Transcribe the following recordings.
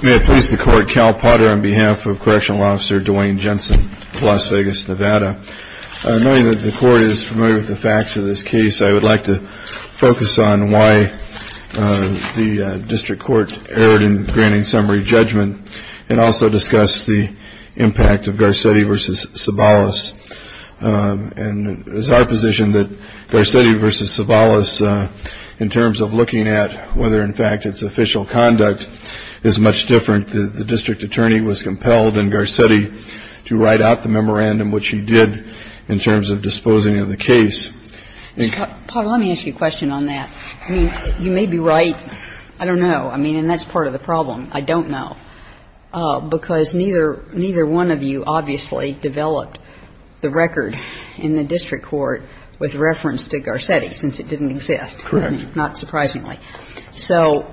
May it please the Court, Cal Potter on behalf of Correctional Officer Dwayne Jensen of Las Vegas, Nevada. Knowing that the Court is familiar with the facts of this case, I would like to focus on why the District Court erred in granting summary judgment and also discuss the impact of Garcetti v. Sabalas. And it is our position that Garcetti v. Sabalas, in terms of looking at whether in fact its official conduct is much different, the District Attorney was compelled in Garcetti to write out the memorandum, which he did, in terms of disposing of the case. Paul, let me ask you a question on that. I mean, you may be right. I don't know. I mean, and that's part of the problem. I don't know. Because neither one of you obviously developed the record in the District Court with reference to Garcetti, since it didn't exist. Correct. Not surprisingly. So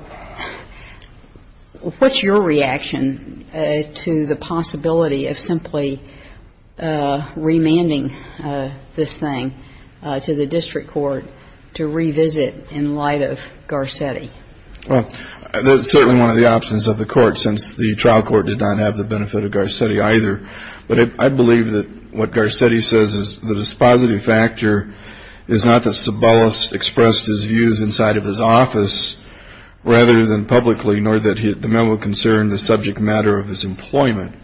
what's your reaction to the possibility of simply remanding this thing to the District Court to revisit in light of Garcetti? Well, that's certainly one of the options of the Court, since the trial court did not have the benefit of Garcetti either. But I believe that what Garcetti says is the dispositive factor is not that Sabalas expressed his views inside of his office, rather than publicly, nor that the memo concerned the subject matter of his employment.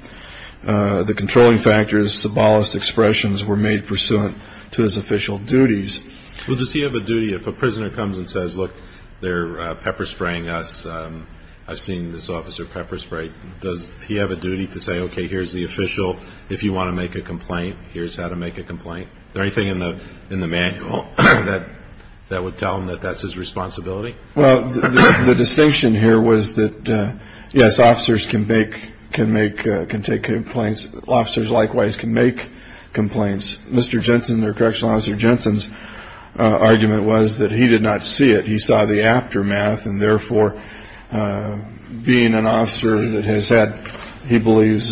The controlling factor is Sabalas' expressions were made pursuant to his official duties. Well, does he have a duty, if a prisoner comes and says, look, they're pepper spraying us, I've seen this officer pepper spray, does he have a duty to say, okay, here's the official, if you want to make a complaint, here's how to make a complaint? Is there anything in the manual that would tell him that that's his responsibility? Well, the distinction here was that, yes, officers can take complaints. Officers, likewise, can make complaints. Mr. Jensen, or Correctional Officer Jensen's argument was that he did not see it. He saw the aftermath, and therefore, being an officer that has had, he believes,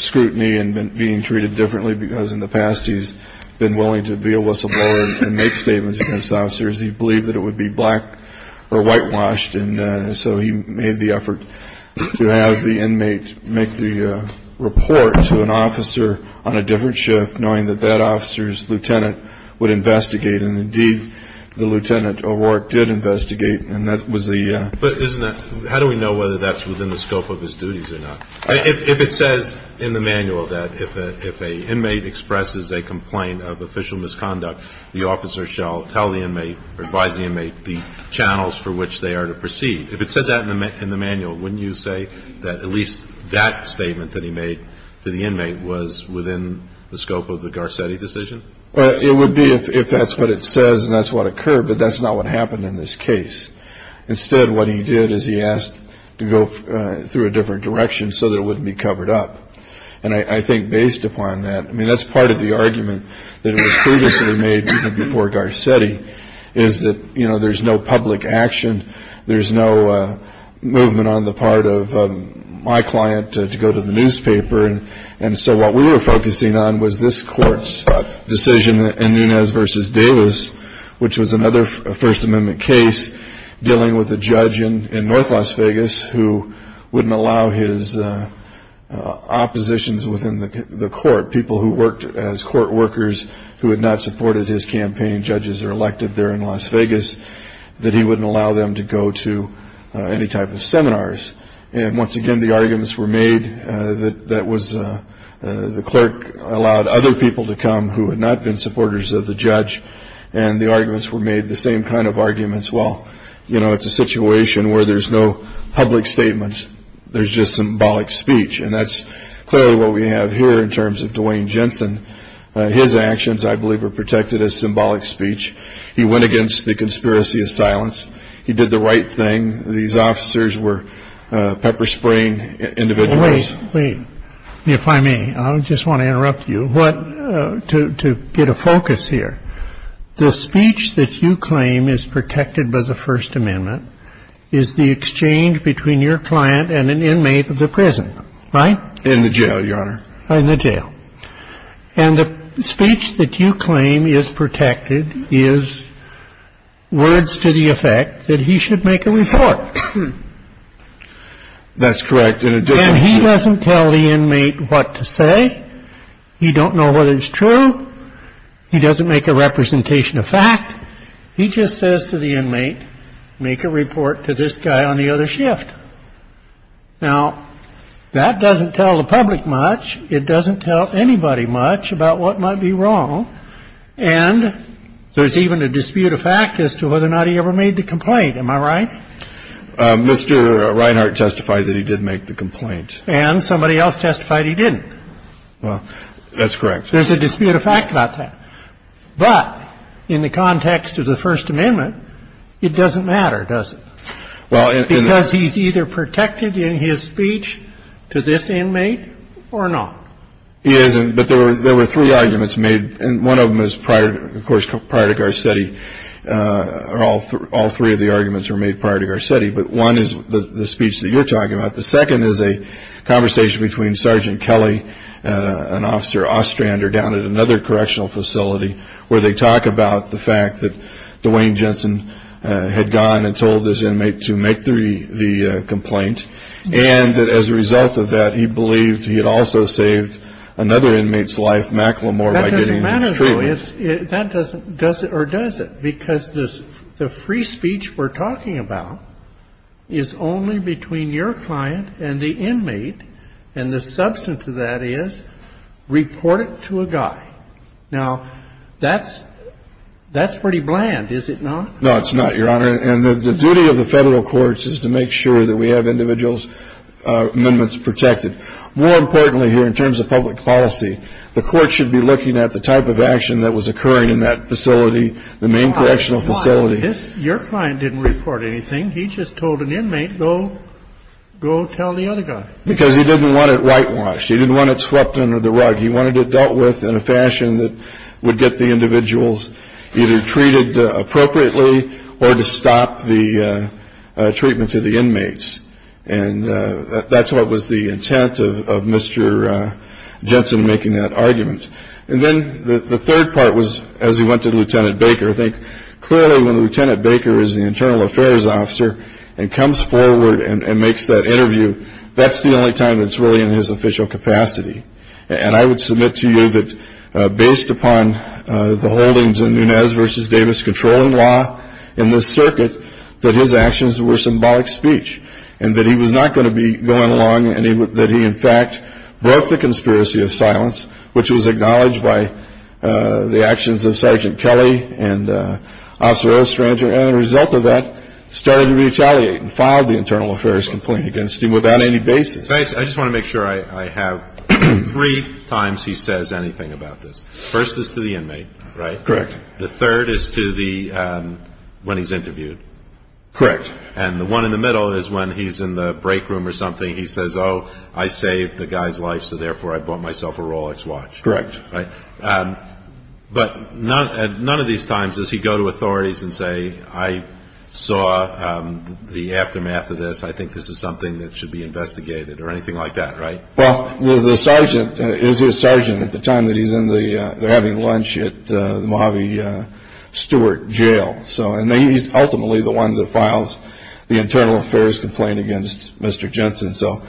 scrutiny and being treated differently because in the past he's been willing to be a whistleblower and make statements against officers. He believed that it would be black or whitewashed, and so he made the effort to have the inmate make the report to an officer on a different shift, knowing that that officer's lieutenant would investigate. And indeed, the Lieutenant O'Rourke did investigate, and that was the ‑‑ But isn't that ‑‑ how do we know whether that's within the scope of his duties or not? If it says in the manual that if an inmate expresses a complaint of official misconduct, the officer shall tell the inmate or advise the inmate the channels for which they are to proceed, if it said that in the manual, wouldn't you say that at least that statement that he made to the inmate was within the scope of the Garcetti decision? It would be if that's what it says and that's what occurred, but that's not what happened in this case. Instead, what he did is he asked to go through a different direction so that it wouldn't be covered up. And I think based upon that, I mean, that's part of the argument that was previously made even before Garcetti, is that, you know, there's no public action, there's no movement on the part of my client to go to the newspaper and so what we were focusing on was this court's decision in Nunez v. Davis, which was another First Amendment case dealing with a judge in north Las Vegas who wouldn't allow his oppositions within the court, people who worked as court workers who had not supported his campaign, judges are elected there in Las Vegas, that he wouldn't allow them to go to any type of seminars. And once again, the arguments were made that the clerk allowed other people to come who had not been supporters of the judge and the arguments were made, the same kind of arguments, well, you know, it's a situation where there's no public statements, there's just symbolic speech and that's clearly what we have here in terms of Dwayne Jensen. His actions, I believe, were protected as symbolic speech. He went against the conspiracy of silence. He did the right thing. These officers were pepper-spraying individuals. Wait, wait. If I may, I just want to interrupt you to get a focus here. The speech that you claim is protected by the First Amendment is the exchange between your client and an inmate of the prison, right? In the jail, Your Honor. In the jail. And the speech that you claim is protected is words to the effect that he should make a report. That's correct. And he doesn't tell the inmate what to say. He don't know whether it's true. He doesn't make a representation of fact. He just says to the inmate, make a report to this guy on the other shift. Now, that doesn't tell the public much. It doesn't tell anybody much about what might be wrong. And there's even a dispute of fact as to whether or not he ever made the complaint. Am I right? Mr. Reinhart testified that he did make the complaint. And somebody else testified he didn't. Well, that's correct. There's a dispute of fact about that. But in the context of the First Amendment, it doesn't matter, does it? Because he's either protected in his speech to this inmate or not. He isn't. But there were three arguments made. And one of them is, of course, prior to Garcetti. All three of the arguments were made prior to Garcetti. But one is the speech that you're talking about. The second is a conversation between Sergeant Kelly and Officer Ostrander down at another correctional facility where they talk about the fact that Dwayne Jensen had gone and told this inmate to make the complaint. And as a result of that, he believed he had also saved another inmate's life, Macklemore, by getting treatment. That doesn't matter, though. Or does it? Because the free speech we're talking about is only between your client and the inmate. And the substance of that is report it to a guy. Now, that's pretty bland, is it not? No, it's not, Your Honor. And the duty of the federal courts is to make sure that we have individuals' amendments protected. More importantly here, in terms of public policy, the court should be looking at the type of action that was occurring in that facility, the main correctional facility. Your client didn't report anything. He just told an inmate, go tell the other guy. Because he didn't want it whitewashed. He didn't want it swept under the rug. He wanted it dealt with in a fashion that would get the individuals either treated appropriately or to stop the treatment to the inmates. And that's what was the intent of Mr. Jensen making that argument. And then the third part was, as he went to Lieutenant Baker, I think clearly when Lieutenant Baker is the internal affairs officer and comes forward and makes that interview, that's the only time it's really in his official capacity. And I would submit to you that based upon the holdings in Nunez v. Davis controlling law in this circuit, that his actions were symbolic speech, and that he was not going to be going along, and that he, in fact, broke the conspiracy of silence, which was acknowledged by the actions of Sergeant Kelly and Osorio Stranger. And as a result of that, started to retaliate and filed the internal affairs complaint against him without any basis. I just want to make sure I have three times he says anything about this. First is to the inmate, right? Correct. The third is to the one he's interviewed. Correct. And the one in the middle is when he's in the break room or something. He says, oh, I saved the guy's life, so therefore I bought myself a Rolex watch. Correct. But none of these times does he go to authorities and say, I saw the aftermath of this. I think this is something that should be investigated or anything like that, right? Well, the sergeant is his sergeant at the time that he's in the having lunch at the Mojave Stewart jail. So and he's ultimately the one that files the internal affairs complaint against Mr. Jensen. So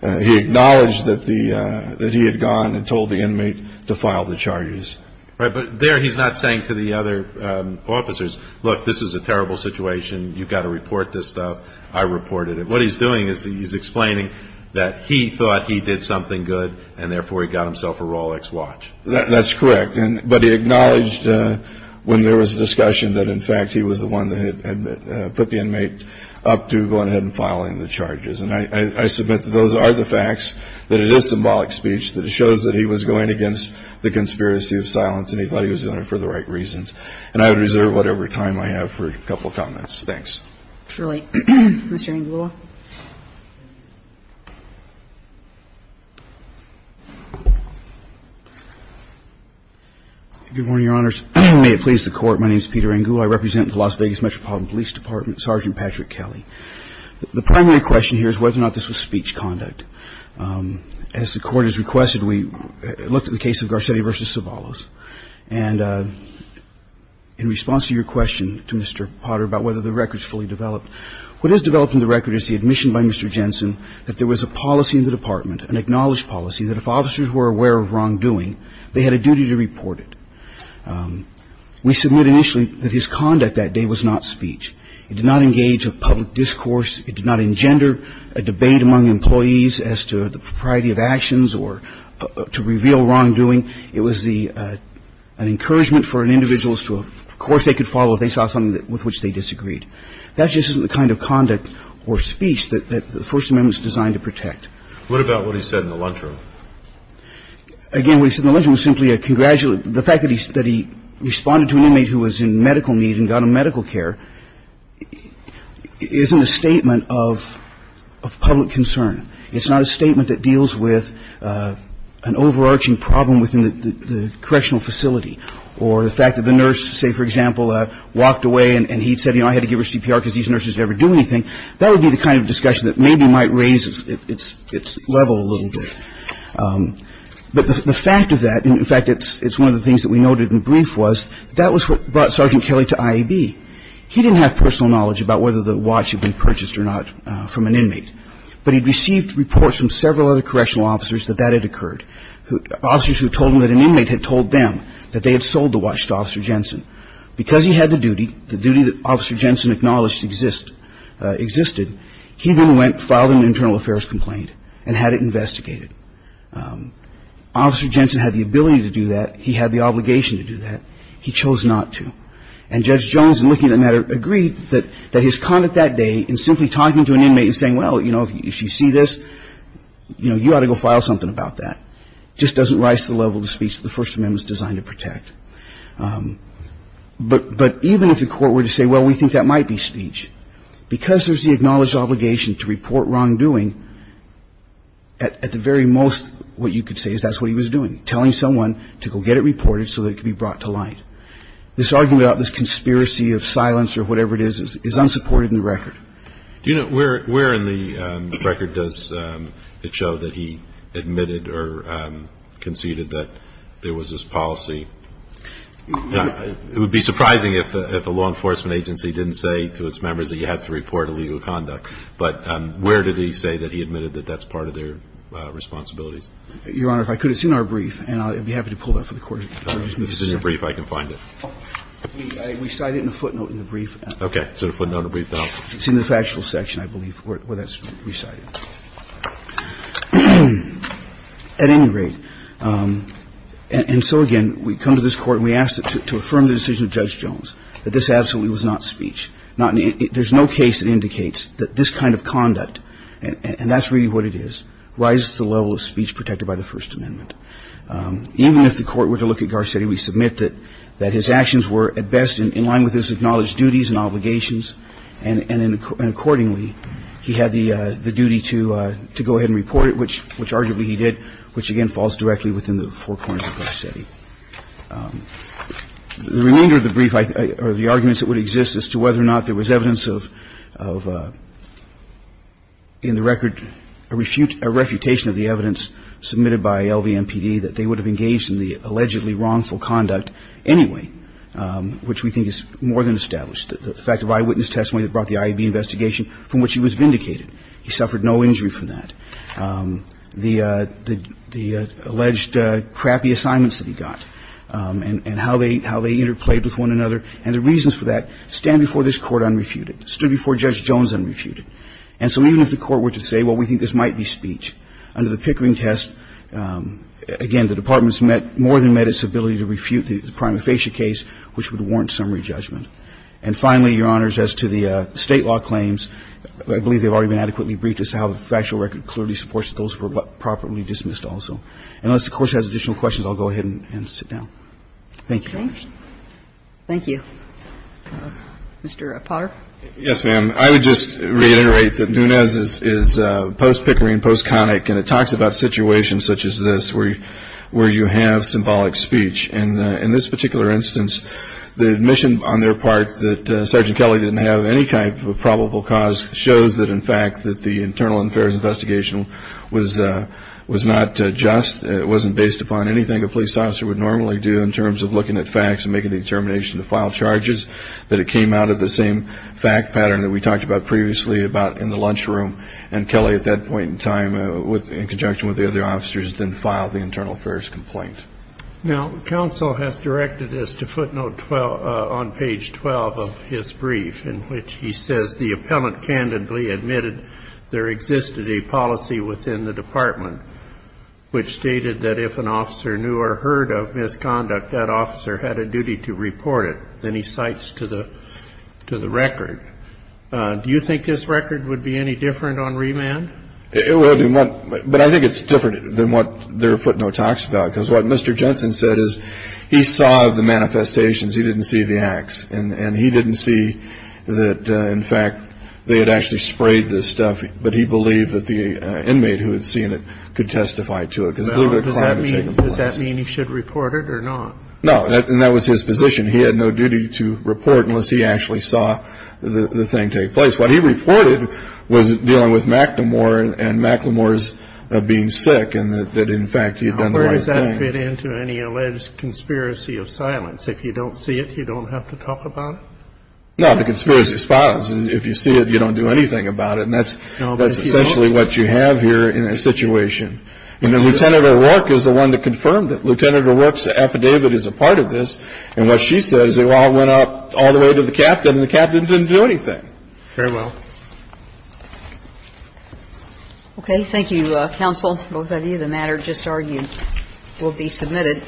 he acknowledged that the that he had gone and told the inmate to file the charges. Right. But there he's not saying to the other officers, look, this is a terrible situation. You've got to report this stuff. I reported it. What he's doing is he's explaining that he thought he did something good and therefore he got himself a Rolex watch. That's correct. And but he acknowledged when there was a discussion that, in fact, he was the one that put the inmate up to go ahead and filing the charges. And I submit that those are the facts, that it is symbolic speech, that it shows that he was going against the conspiracy of silence and he thought he was doing it for the right reasons. And I would reserve whatever time I have for a couple of comments. Thanks. Truly. Mr. Angula. Good morning, Your Honors. May it please the Court. My name is Peter Angula. I represent the Las Vegas Metropolitan Police Department, Sergeant Patrick Kelly. The primary question here is whether or not this was speech conduct. As the Court has requested, we looked at the case of Garcetti v. Sobalos. And in response to your question to Mr. Potter about whether the record is fully developed, what is developed in the record is the admission by Mr. Jensen that there was a policy in the department, an acknowledged policy, that if officers were aware of wrongdoing, they had a duty to report it. We submit initially that his conduct that day was not speech. It did not engage with public discourse. It did not engender a debate among employees as to the propriety of actions or to reveal wrongdoing. It was an encouragement for an individual as to, of course, they could follow if they saw something with which they disagreed. That just isn't the kind of conduct or speech that the First Amendment is designed to protect. What about what he said in the lunchroom? Again, what he said in the lunchroom was simply a congratulatory. The fact that he responded to an inmate who was in medical need and got him medical care isn't a statement of public concern. It's not a statement that deals with an overarching problem within the correctional facility or the fact that the nurse, say, for example, walked away and he said, you know, I had to give her CPR because these nurses never do anything. That would be the kind of discussion that maybe might raise its level a little bit. But the fact of that, in fact, it's one of the things that we noted in brief, was that was what brought Sergeant Kelly to IAB. He didn't have personal knowledge about whether the watch had been purchased or not from an inmate. But he'd received reports from several other correctional officers that that had occurred, officers who told him that an inmate had told them that they had sold the watch to Officer Jensen. Because he had the duty, the duty that Officer Jensen acknowledged existed, he then went and filed an internal affairs complaint and had it investigated. Officer Jensen had the ability to do that. He had the obligation to do that. He chose not to. And Judge Jones, in looking at the matter, agreed that his conduct that day in simply talking to an inmate and saying, well, you know, if you see this, you know, you ought to go file something about that, just doesn't rise to the level of the speech that the First Amendment is designed to protect. But even if the Court were to say, well, we think that might be speech, because there's the acknowledged obligation to report wrongdoing, at the very most, what you could say is that's what he was doing, telling someone to go get it reported so that it could be brought to light. This argument about this conspiracy of silence or whatever it is is unsupported in the record. Do you know where in the record does it show that he admitted or conceded that there was this policy? It would be surprising if a law enforcement agency didn't say to its members that you had to report illegal conduct. But where did he say that he admitted that that's part of their responsibilities? Your Honor, if I could, it's in our brief, and I'd be happy to pull that for the Court. It's in your brief. I can find it. We cite it in a footnote in the brief. Okay. It's in the factual section, I believe, where that's recited. At any rate, and so again, we come to this Court and we ask to affirm the decision of Judge Jones that this absolutely was not speech. There's no case that indicates that this kind of conduct, and that's really what it is, rises to the level of speech protected by the First Amendment. Even if the Court were to look at Garcetti, we submit that his actions were at best in line with his acknowledged duties and obligations, and accordingly, he had the duty to go ahead and report it, which arguably he did, which again falls directly within the four corners of Garcetti. The remainder of the brief are the arguments that would exist as to whether or not there was evidence of, in the record, a refutation of the evidence submitted by LVMPD that they would have engaged in the allegedly wrongful conduct anyway, which we think is more than established. The fact of eyewitness testimony that brought the IAB investigation from which he was vindicated, he suffered no injury from that. The alleged crappy assignments that he got and how they interplayed with one another and the reasons for that stand before this Court unrefuted, stood before Judge Jones unrefuted. And so even if the Court were to say, well, we think this might be speech, under the Pickering test, again, the Department's more than met its ability to refute the prima facie case, which would warrant summary judgment. And finally, Your Honors, as to the State law claims, I believe they've already been adequately briefed as to how the factual record clearly supports that those were properly dismissed also. And unless the Court has additional questions, I'll go ahead and sit down. Thank you, Your Honors. Thank you. Mr. Potter. Yes, ma'am. I would just reiterate that Nunez is post-Pickering, post-Connick, and it talks about situations such as this where you have symbolic speech. In this particular instance, the admission on their part that Sergeant Kelly didn't have any type of probable cause shows that, in fact, that the internal affairs investigation was not just, it wasn't based upon anything a police officer would normally do in terms of looking at facts and making the determination to file charges, that it came out of the same fact pattern that we talked about previously about in the lunchroom. And Kelly, at that point in time, in conjunction with the other officers, then filed the internal affairs complaint. Now, counsel has directed us to footnote 12, on page 12 of his brief, in which he says the appellant candidly admitted there existed a policy within the department which stated that if an officer knew or heard of misconduct, that officer had a duty to report it. Then he cites to the record. Do you think this record would be any different on remand? It would. But I think it's different than what their footnote talks about. Because what Mr. Jensen said is he saw the manifestations. He didn't see the acts. And he didn't see that, in fact, they had actually sprayed this stuff. But he believed that the inmate who had seen it could testify to it. Does that mean he should report it or not? No. And that was his position. He had no duty to report unless he actually saw the thing take place. What he reported was dealing with McNamore and McNamore's being sick and that, in fact, he had done the right thing. How does that fit into any alleged conspiracy of silence? If you don't see it, you don't have to talk about it? No. The conspiracy of silence is if you see it, you don't do anything about it. And that's essentially what you have here in this situation. And then Lieutenant O'Rourke is the one that confirmed it. Lieutenant O'Rourke's affidavit is a part of this. And what she said is it all went up all the way to the captain and the captain didn't do anything. Very well. Okay. Thank you, counsel. Both of you. The matter just argued will be submitted.